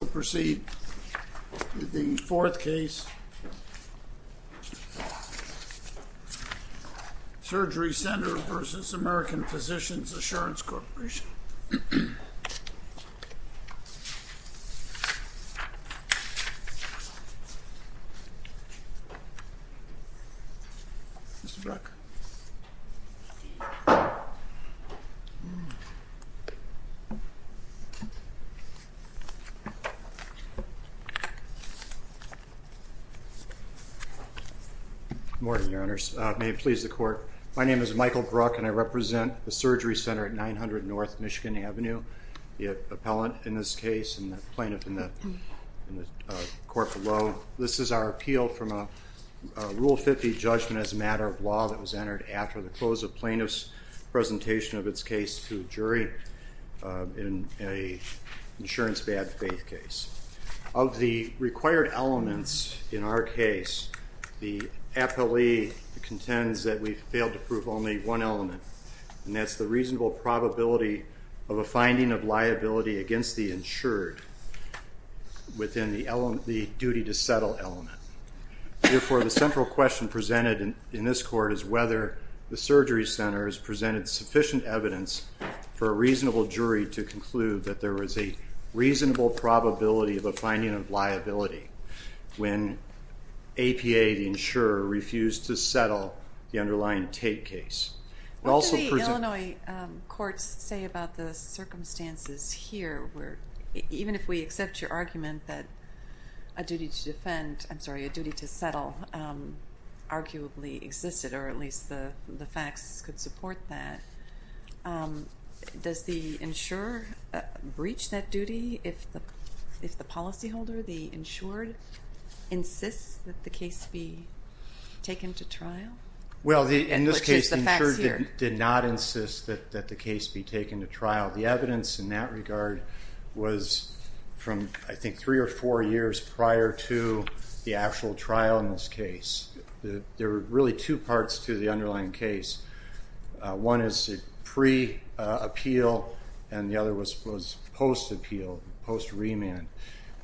We will proceed with the fourth case, Surgery Center v. American Physicians Assurance Corporation. Good morning, Your Honors. May it please the Court, my name is Michael Brook and I represent the Surgery Center at 900 North Michigan Avenue. The appellant in this case and the plaintiff in the court below. This is our appeal from a Rule 50 judgment as a matter of law that was entered after the close of plaintiff's presentation of its case to a jury in an insurance bad faith case. Of the required elements in our case, the appellee contends that we failed to prove only one element and that's the reasonable probability of a finding of liability against the insured within the duty to settle element. Therefore, the central question presented in this court is whether the Surgery Center has presented sufficient evidence for a reasonable jury to conclude that there was a reasonable probability of a finding of liability when APA, the insurer, refused to settle the underlying Tate case. What do the Illinois courts say about the circumstances here where even if we accept your argument that a duty to defend, I'm sorry, a duty to settle arguably existed or at least the facts could support that, does the insurer breach that duty if the policyholder, the insured, insists that the case be taken to trial? Well, in this case, the insured did not insist that the case be taken to trial. The evidence in that regard was from I think three or four years prior to the actual trial in this case. There were really two parts to the underlying case. One is pre-appeal and the other was post-appeal, post-remand.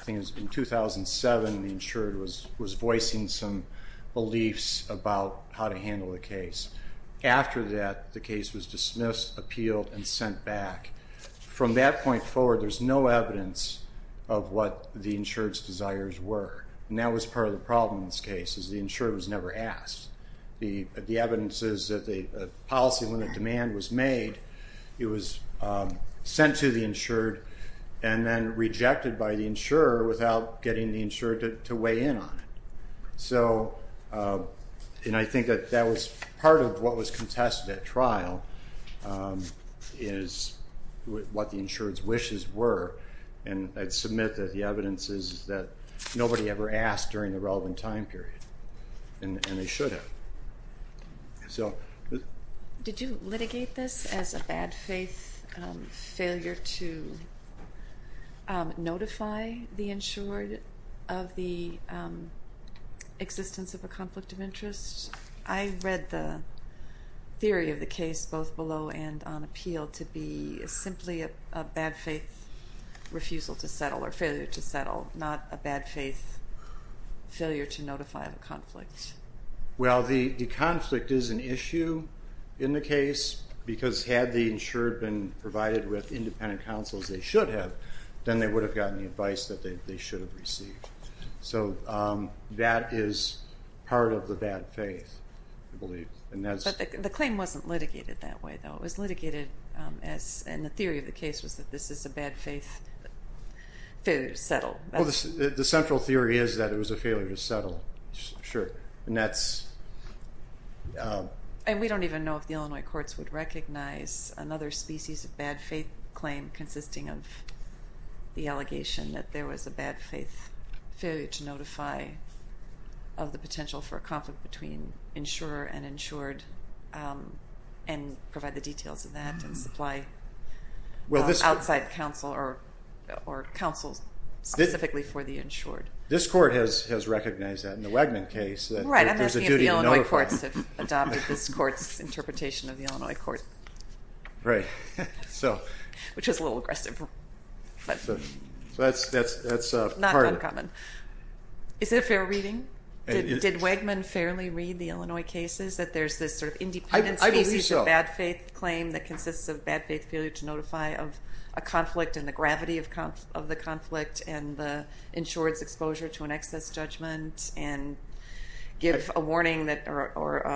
In 2007, the insured was voicing some beliefs about how to handle the case. After that, the case was dismissed, appealed, and sent back. From that point forward, there's no evidence of what the insured's desires were, and that was part of the problem in this case, is the insured was never asked. The evidence is that the policy, when the demand was made, it was sent to the insured and then rejected by the insurer without getting the insured to weigh in on it. I think that that was part of what was contested at trial, is what the insured's wishes were, and I'd submit that the evidence is that nobody ever asked during the relevant time period, and they should have. Did you litigate this as a bad faith failure to notify the insured of the existence of a conflict of interest? I read the theory of the case, both below and on appeal, to be simply a bad faith refusal to settle or failure to settle, not a bad faith failure to notify of a conflict. Well, the conflict is an issue in the case, because had the insured been provided with independent counsel, as they should have, then they would have gotten the advice that they should have received. So that is part of the bad faith, I believe. But the claim wasn't litigated that way, though. It was litigated as, and the theory of the case was that this is a bad faith failure to settle. Well, the central theory is that it was a failure to settle, sure. And that's... And we don't even know if the Illinois courts would recognize another species of bad faith claim consisting of the allegation that there was a bad faith failure to notify of the potential for a conflict between insurer and insured, and provide the details of that and supply outside counsel or counsel specifically for the insured. This court has recognized that in the Wegman case. Right, I'm asking if the Illinois courts have adopted this court's interpretation of the Illinois court. Right. Which was a little aggressive. So that's part of it. Not uncommon. Is it a fair reading? Did Wegman fairly read the Illinois cases that there's this sort of independent species of bad faith claim that consists of bad faith failure to notify of a conflict and the gravity of the conflict and the insured's exposure to an excess judgment and give a warning or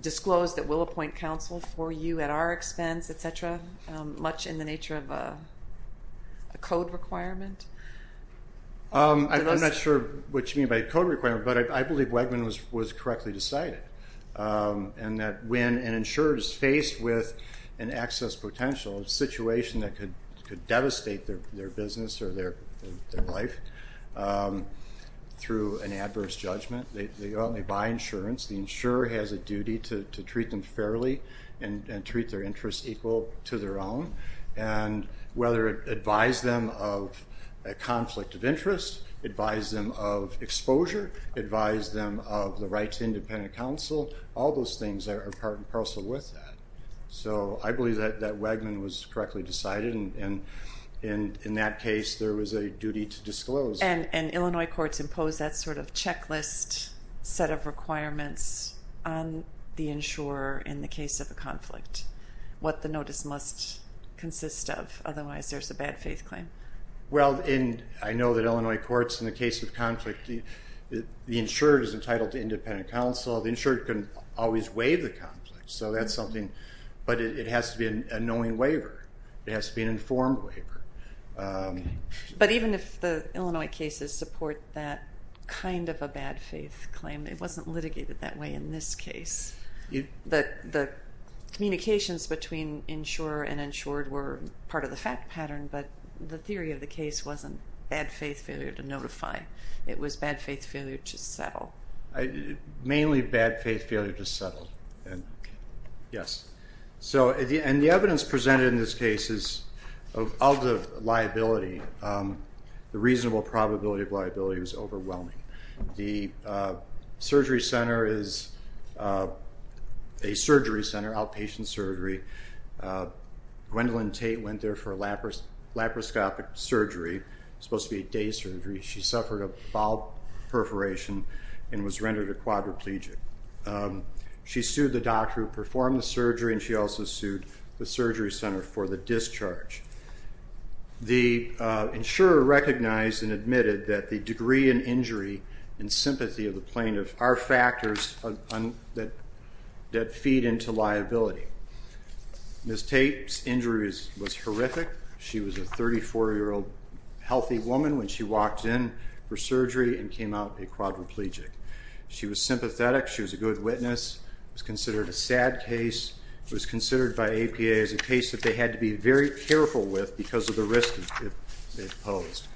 disclose that we'll appoint counsel for you at our expense, et cetera, much in the nature of a code requirement? I'm not sure what you mean by a code requirement, but I believe Wegman was correctly decided. And that when an insurer is faced with an excess potential, a situation that could devastate their business or their life through an adverse judgment, they go out and they buy insurance. The insurer has a duty to treat them fairly and treat their interests equal to their own. And whether it advise them of a conflict of interest, advise them of exposure, advise them of the right to independent counsel, all those things are part and parcel with that. So I believe that Wegman was correctly decided and in that case there was a duty to disclose. And Illinois courts impose that sort of checklist set of requirements on the insurer in the case of a conflict, what the notice must consist of, otherwise there's a bad faith claim. Well, I know that Illinois courts in the case of conflict, the insurer is entitled to independent counsel. The insurer can always waive the conflict, so that's something, but it has to be a knowing waiver. It has to be an informed waiver. But even if the Illinois cases support that kind of a bad faith claim, it wasn't litigated that way in this case. The communications between insurer and insured were part of the fact pattern, but the theory of the case wasn't bad faith failure to notify, it was bad faith failure to settle. Mainly bad faith failure to settle, yes. And the evidence presented in this case is of the liability, the reasonable probability of liability was overwhelming. The surgery center is a surgery center, outpatient surgery. Gwendolyn Tate went there for a laparoscopic surgery, supposed to be a day surgery. She suffered a bowel perforation and was rendered a quadriplegic. She sued the doctor who performed the surgery and she also sued the surgery center for the discharge. The insurer recognized and admitted that the degree and injury and sympathy of the plaintiff are factors that feed into liability. Ms. Tate's injuries was horrific. She was a 34-year-old healthy woman when she walked in for surgery and came out a quadriplegic. She was sympathetic, she was a good witness, was considered a sad case, was considered by APA as a case that they had to be very careful with because of the risk it posed.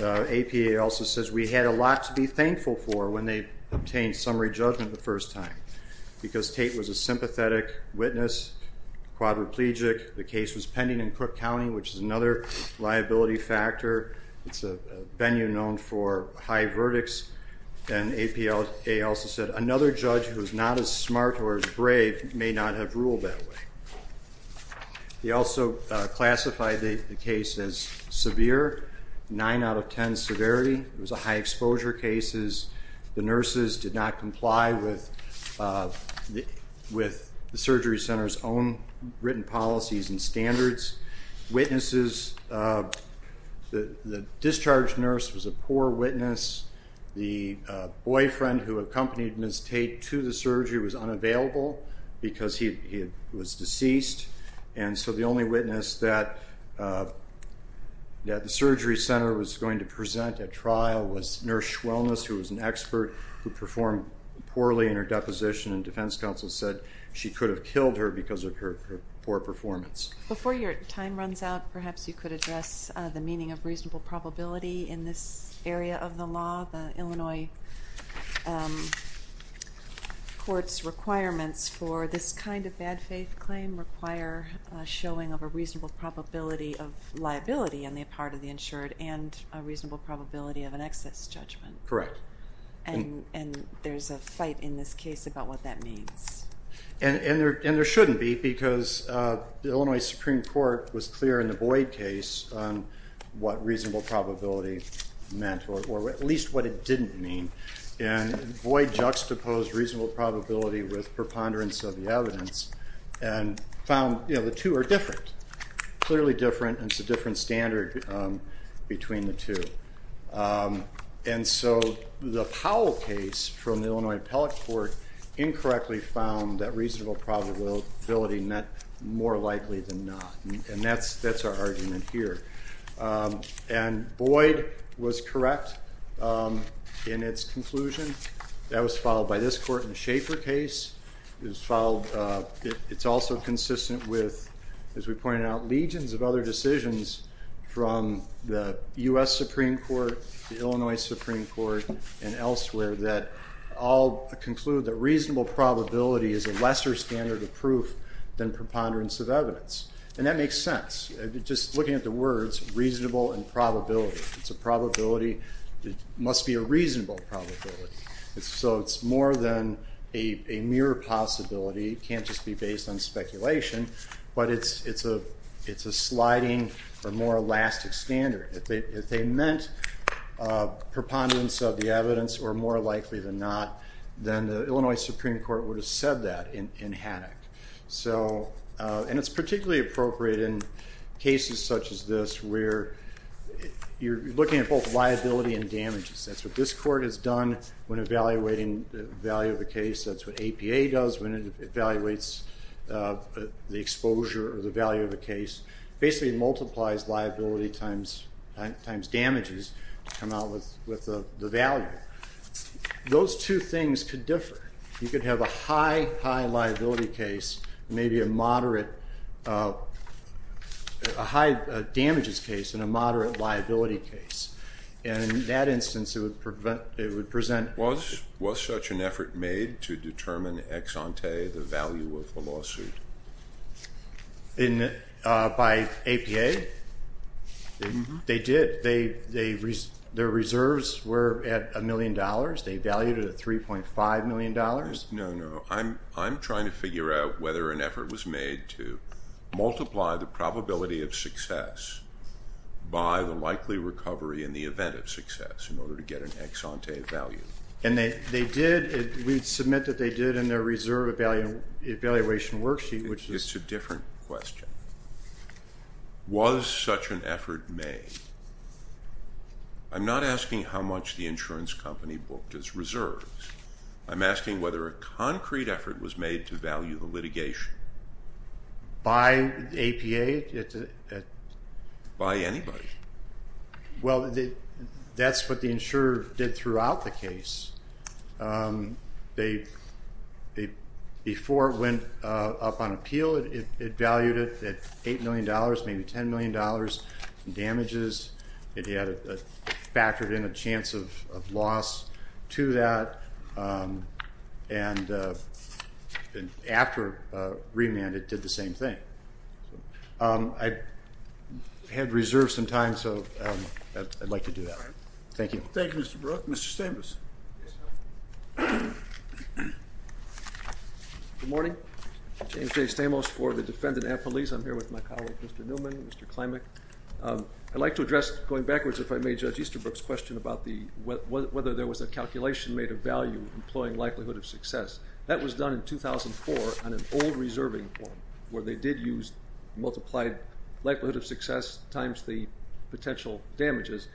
APA also says we had a lot to be thankful for when they obtained summary judgment the first time because Tate was a sympathetic witness, quadriplegic, the case was pending in Cook County which is another liability factor. It's a venue known for high verdicts and APA also said another judge who is not as smart or as brave may not have ruled that way. They also classified the case as severe, 9 out of 10 severity. It was a high exposure case. The nurses did not comply with the surgery center's own written policies and standards. The discharge nurse was a poor witness. The boyfriend who accompanied Ms. Tate to the surgery was unavailable because he was deceased and so the only witness that the surgery center was going to present at trial was Nurse Schwellness who was an expert who performed poorly in her deposition and defense counsel said she could have killed her because of her poor performance. Before your time runs out, perhaps you could address the meaning of reasonable probability in this area of the law. The Illinois court's requirements for this kind of bad faith claim require showing of a reasonable probability of liability on the part of the insured and a reasonable probability of an excess judgment. Correct. And there's a fight in this case about what that means. And there shouldn't be because the Illinois Supreme Court was clear in the Boyd case on what reasonable probability meant or at least what it didn't mean and Boyd juxtaposed reasonable probability with preponderance of the evidence and found the two are different, clearly different and it's a different standard between the two. And so the Powell case from the Illinois appellate court incorrectly found that reasonable probability meant more likely than not and that's our argument here. And Boyd was correct in its conclusion, that was followed by this court in the Schaefer case, it's also consistent with as we pointed out legions of other decisions from the U.S. Supreme Court, the Illinois Supreme Court and elsewhere that all conclude that reasonable probability is a lesser standard of proof than preponderance of evidence. And that makes sense, just looking at the words reasonable and probability. It's a probability, it must be a reasonable probability. So it's more than a mere possibility, it can't just be based on speculation but it's a sliding or more elastic standard. If they meant preponderance of the evidence or more likely than not, then the Illinois Supreme Court would have said that in Haddock. And it's particularly appropriate in cases such as this where you're looking at both liability and damages. That's what this court has done when evaluating the value of a case, that's what APA does when it evaluates the exposure or the value of a case. Basically it multiplies liability times damages to come out with the value. Those two things could differ. You could have a high, high liability case, maybe a moderate, a high damages case and a moderate liability case. And in that instance it would present... Was such an effort made to determine ex ante the value of the lawsuit? By APA? They did. Their reserves were at a million dollars. They valued it at 3.5 million dollars. No, no. I'm trying to figure out whether an effort was made to multiply the probability of success by the likely recovery in the event of success in order to get an ex ante value. And they did. We submit that they did in their reserve evaluation worksheet. It's a different question. Was such an effort made? I'm not asking how much the insurance company booked as reserves. I'm asking whether a concrete effort was made to value the litigation. By APA? By anybody. Well, that's what the insurer did throughout the case. Before it went up on appeal it valued it at 8 million dollars, maybe 10 million dollars in damages. It factored in a chance of loss to that. And after remand it did the same thing. I had reserved some time, so I'd like to do that. Thank you. Thank you, Mr. Brooke. Mr. Stamos. Good morning. James J. Stamos for the defendant at police. I'm here with my colleague, Mr. Newman, Mr. Klimek. I'd like to address, going backwards, if I may, Judge Easterbrook's question about whether there was a calculation made of value employing likelihood of success. That was done in 2004 on an old reserving form where they did use multiplied likelihood of success times the potential damages.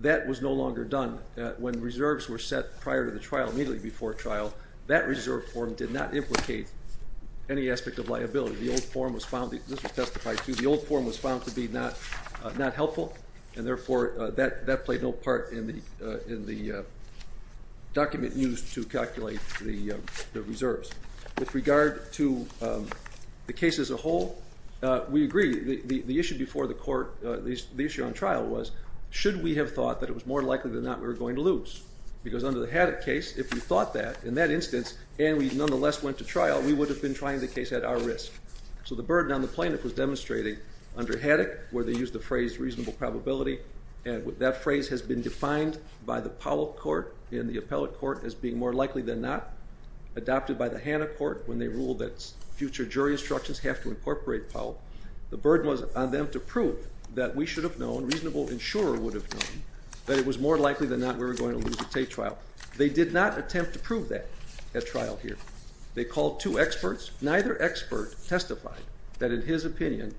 That was no longer done. When reserves were set prior to the trial, immediately before trial, that reserve form did not implicate any aspect of liability. This was testified to. The old form was found to be not helpful, and therefore that played no part in the document used to calculate the reserves. With regard to the case as a whole, we agree. The issue before the court, the issue on trial, was should we have thought that it was more likely than not we were going to lose? Because under the Haddock case, if we thought that, in that instance, and we nonetheless went to trial, we would have been trying the case at our risk. So the burden on the plaintiff was demonstrated under Haddock where they used the phrase reasonable probability, and that phrase has been defined by the Powell Court in the appellate court as being more likely than not. Adopted by the Hanna Court when they ruled that future jury instructions have to incorporate Powell, the burden was on them to prove that we should have known, reasonable insurer would have known, that it was more likely than not we were going to lose at Tate trial. They did not attempt to prove that at trial here. They called two experts. Neither expert testified that, in his opinion,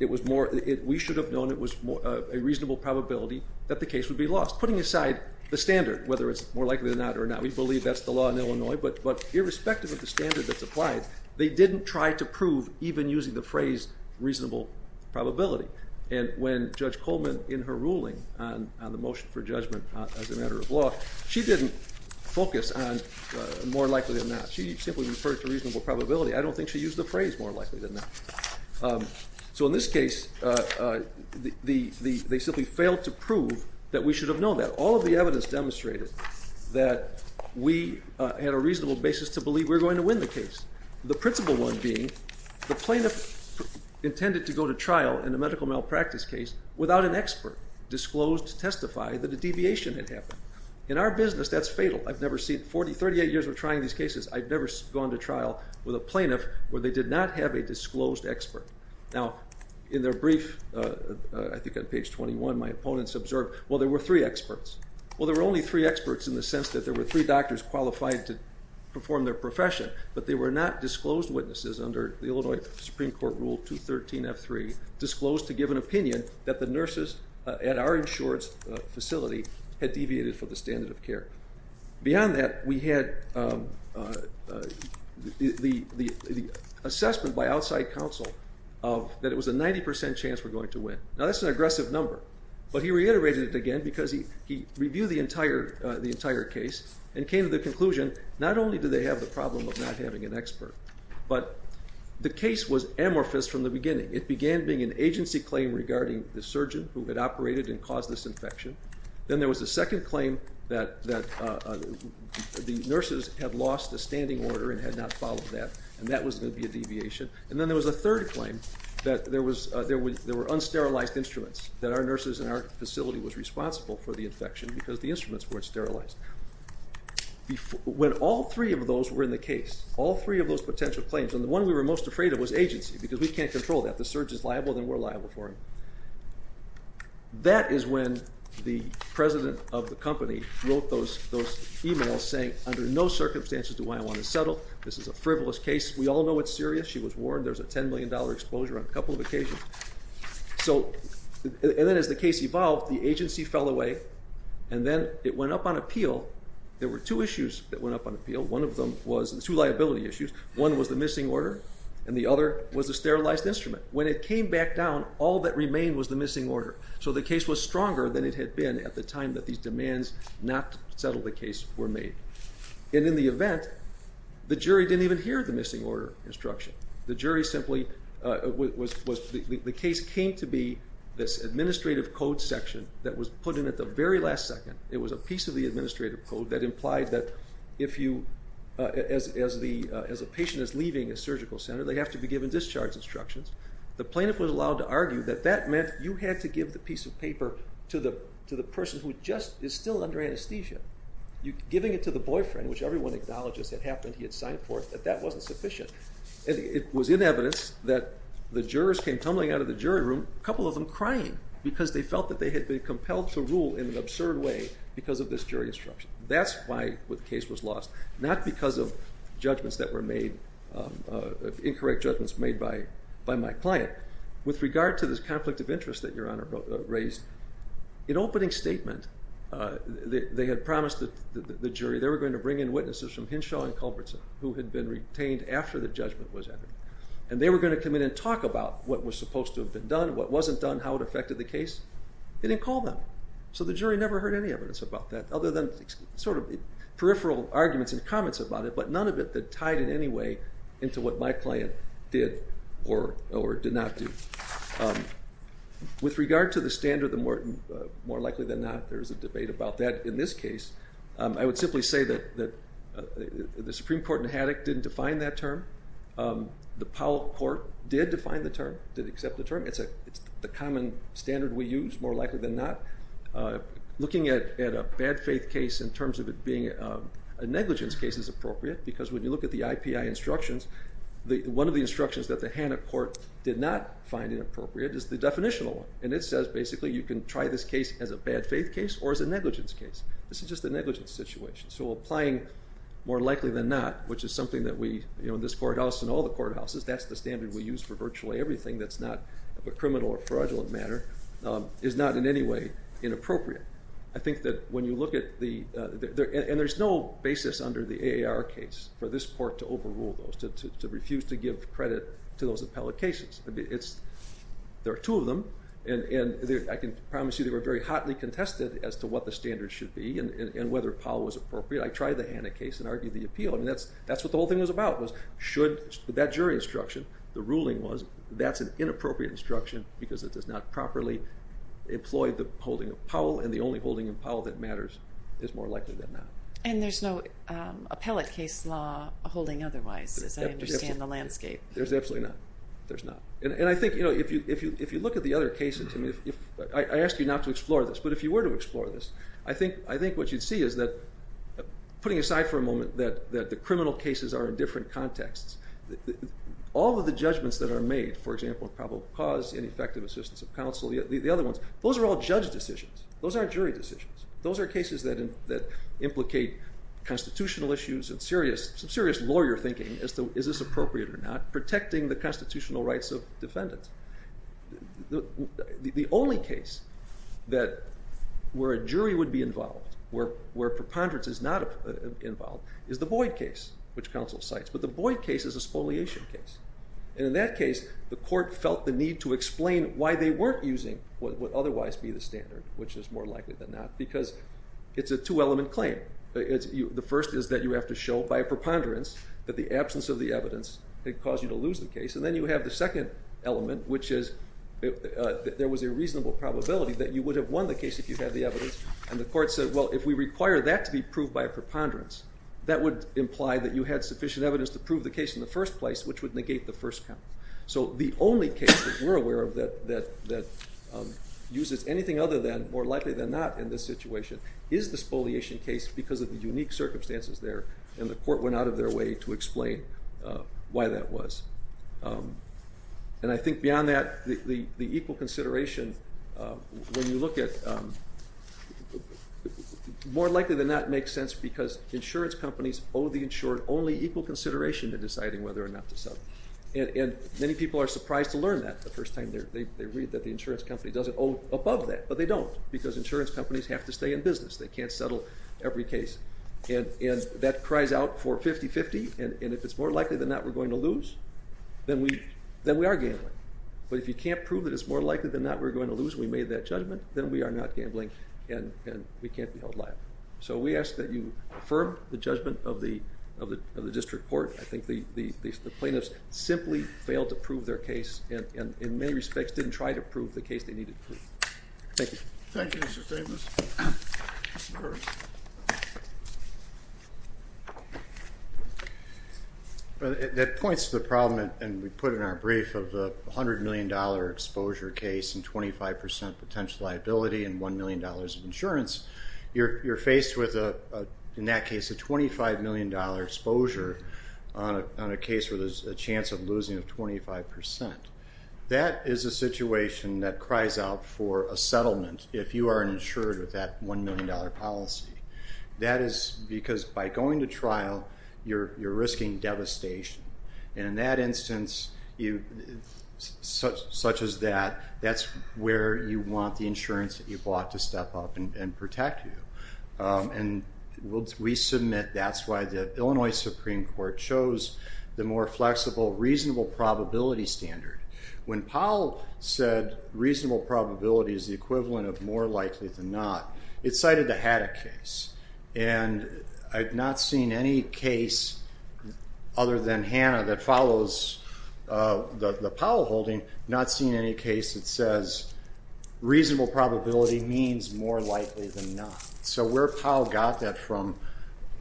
we should have known it was a reasonable probability that the case would be lost. Putting aside the standard, whether it's more likely than not or not, we believe that's the law in Illinois, but irrespective of the standard that's applied, they didn't try to prove even using the phrase reasonable probability. And when Judge Coleman, in her ruling on the motion for judgment as a matter of law, she didn't focus on more likely than not. She simply referred to reasonable probability. I don't think she used the phrase more likely than not. So in this case, they simply failed to prove that we should have known that. All of the evidence demonstrated that we had a reasonable basis to believe we were going to win the case. The principle one being, the plaintiff intended to go to trial in a medical malpractice case without an expert disclosed to testify that a deviation had happened. In our business, that's fatal. I've never seen 40, 38 years of trying these cases, I've never gone to trial with a plaintiff where they did not have a disclosed expert. Now, in their brief, I think on page 21, my opponents observed, well, there were three experts. Well, there were only three experts in the sense that there were three doctors qualified to perform their profession, but they were not disclosed witnesses under the Illinois Supreme Court Rule 213F3, disclosed to give an opinion that the nurses at our insurance facility had deviated from the standard of care. Beyond that, we had the assessment by outside counsel that it was a 90% chance we're going to win. Now, that's an aggressive number, but he reiterated it again because he reviewed the entire case and came to the conclusion not only do they have the problem of not having an expert, but the case was amorphous from the beginning. It began being an agency claim regarding the surgeon who had operated and caused this infection. Then there was a second claim that the nurses had lost a standing order and had not followed that, and that was going to be a deviation. And then there was a third claim that there were unsterilized instruments, that our nurses in our facility was responsible for the infection because the instruments weren't sterilized. When all three of those were in the case, all three of those potential claims, and the one we were most afraid of was agency because we can't control that. The surgeon's liable, then we're liable for him. That is when the president of the company wrote those emails saying, under no circumstances do I want to settle. This is a frivolous case. We all know it's serious. She was warned. There's a $10 million exposure on a couple of occasions. And then as the case evolved, the agency fell away, and then it went up on appeal. There were two issues that went up on appeal. One of them was two liability issues. One was the missing order, and the other was the sterilized instrument. When it came back down, all that remained was the missing order. So the case was stronger than it had been at the time that these demands not to settle the case were made. And in the event, the jury didn't even hear the missing order instruction. The case came to be this administrative code section that was put in at the very last second. It was a piece of the administrative code that implied that as a patient is leaving a surgical center, they have to be given discharge instructions. The plaintiff was allowed to argue that that meant you had to give the piece of paper to the person who just is still under anesthesia. Giving it to the boyfriend, which everyone acknowledges had happened, he had signed for it, that that wasn't sufficient. It was in evidence that the jurors came tumbling out of the jury room, a couple of them crying, because they felt that they had been compelled to rule in an absurd way because of this jury instruction. That's why the case was lost, not because of judgments that were made, incorrect judgments made by my client. With regard to this conflict of interest that Your Honor raised, in opening statement, they had promised the jury they were going to bring in witnesses from Hinshaw and Culbertson who had been retained after the judgment was entered. And they were going to come in and talk about what was supposed to have been done, what wasn't done, how it affected the case. They didn't call them, so the jury never heard any evidence about that, other than sort of peripheral arguments and comments about it, but none of it that tied in any way into what my client did or did not do. With regard to the standard, more likely than not there is a debate about that in this case, I would simply say that the Supreme Court in Haddock didn't define that term. The Powell Court did define the term, did accept the term. It's the common standard we use, more likely than not. Looking at a bad faith case in terms of it being a negligence case is appropriate, because when you look at the IPI instructions, one of the instructions that the Haddock Court did not find inappropriate is the definitional one. And it says basically you can try this case as a bad faith case or as a negligence case. This is just a negligence situation. So applying more likely than not, which is something that we, you know, in this courthouse and all the courthouses, that's the standard we use for virtually everything that's not a criminal or fraudulent matter, is not in any way inappropriate. I think that when you look at the, and there's no basis under the AAR case for this court to overrule those, to refuse to give credit to those appellate cases. There are two of them, and I can promise you they were very hotly contested as to what the standards should be and whether Powell was appropriate. I tried the Haddock case and argued the appeal. I mean, that's what the whole thing was about, was should that jury instruction, the ruling was that's an inappropriate instruction because it does not properly employ the holding of Powell, and the only holding of Powell that matters is more likely than not. And there's no appellate case law holding otherwise, as I understand the landscape. There's absolutely not. There's not. And I think, you know, if you look at the other cases, I mean, I ask you not to explore this, but if you were to explore this, I think what you'd see is that, putting aside for a moment that the criminal cases are in different contexts, all of the judgments that are made, for example, in probable cause, ineffective assistance of counsel, the other ones, those are all judge decisions. Those aren't jury decisions. Those are cases that implicate constitutional issues and serious lawyer thinking as to is this appropriate or not, protecting the constitutional rights of defendants. The only case where a jury would be involved, where preponderance is not involved, is the Boyd case, which counsel cites. But the Boyd case is a spoliation case. And in that case, the court felt the need to explain why they weren't using what would otherwise be the standard, which is more likely than not, because it's a two-element claim. The first is that you have to show by preponderance that the absence of the evidence could cause you to lose the case, and then you have the second element, which is that there was a reasonable probability that you would have won the case if you had the evidence, and the court said, well, if we require that to be proved by preponderance, that would imply that you had sufficient evidence to prove the case in the first place, which would negate the first count. So the only case that we're aware of that uses anything other than, more likely than not in this situation, is the spoliation case because of the unique circumstances there, and the court went out of their way to explain why that was. And I think beyond that, the equal consideration, when you look at, more likely than not, makes sense because insurance companies owe the insured only equal consideration in deciding whether or not to settle. And many people are surprised to learn that the first time they read that the insurance company doesn't owe above that, but they don't, because insurance companies have to stay in business. They can't settle every case. And that cries out for 50-50, and if it's more likely than not we're going to lose, then we are gambling. But if you can't prove that it's more likely than not we're going to lose, we made that judgment, then we are not gambling, and we can't be held liable. So we ask that you affirm the judgment of the district court. I think the plaintiffs simply failed to prove their case, and in many respects didn't try to prove the case they needed to prove. Thank you. Thank you, Mr. Stavis. That points to the problem, and we put it in our brief, of the $100 million exposure case and 25% potential liability and $1 million of insurance. You're faced with, in that case, a $25 million exposure on a case where there's a chance of losing of 25%. That is a situation that cries out for a settlement if you are insured with that $1 million policy. That is because by going to trial, you're risking devastation. And in that instance, such as that, that's where you want the insurance that you bought to step up and protect you. We submit that's why the Illinois Supreme Court chose the more flexible reasonable probability standard. When Powell said reasonable probability is the equivalent of more likely than not, it cited the Haddock case. And I've not seen any case other than Hanna that follows the Powell holding, not seen any case that says reasonable probability means more likely than not. So where Powell got that from,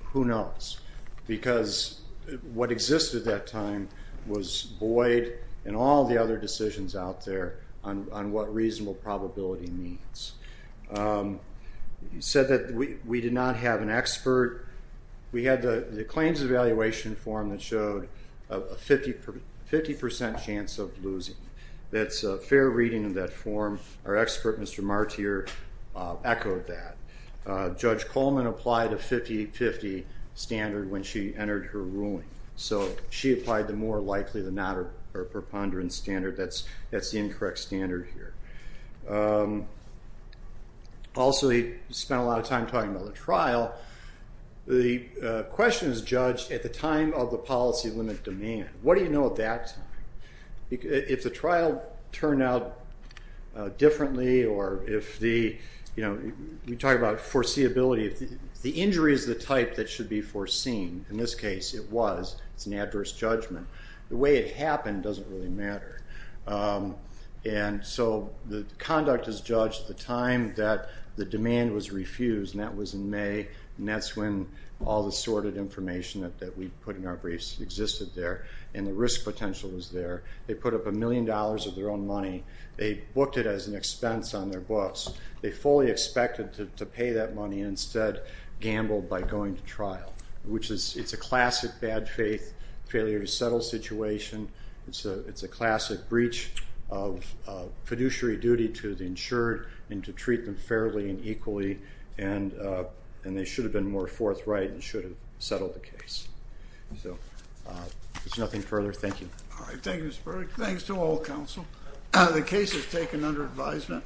who knows? Because what existed at that time was void and all the other decisions out there on what reasonable probability means. He said that we did not have an expert. We had the claims evaluation form that showed a 50% chance of losing. That's a fair reading of that form. Our expert, Mr. Martyr, echoed that. Judge Coleman applied a 50-50 standard when she entered her ruling. So she applied the more likely than not or preponderance standard. That's the incorrect standard here. Also, he spent a lot of time talking about the trial. The question is judged at the time of the policy limit demand. What do you know at that time? If the trial turned out differently or if the, you know, we talk about foreseeability. The injury is the type that should be foreseen. In this case, it was. It's an adverse judgment. The way it happened doesn't really matter. And so the conduct is judged at the time that the demand was refused, and that was in May. And that's when all the sorted information that we put in our briefs existed there and the risk potential was there. They put up a million dollars of their own money. They booked it as an expense on their books. They fully expected to pay that money and instead gambled by going to trial, which is a classic bad faith, failure to settle situation. It's a classic breach of fiduciary duty to the insured and to treat them fairly and equally. And they should have been more forthright and should have settled the case. So there's nothing further. Thank you. All right, thank you, Mr. Burdick. Thanks to all counsel. The case is taken under advisement.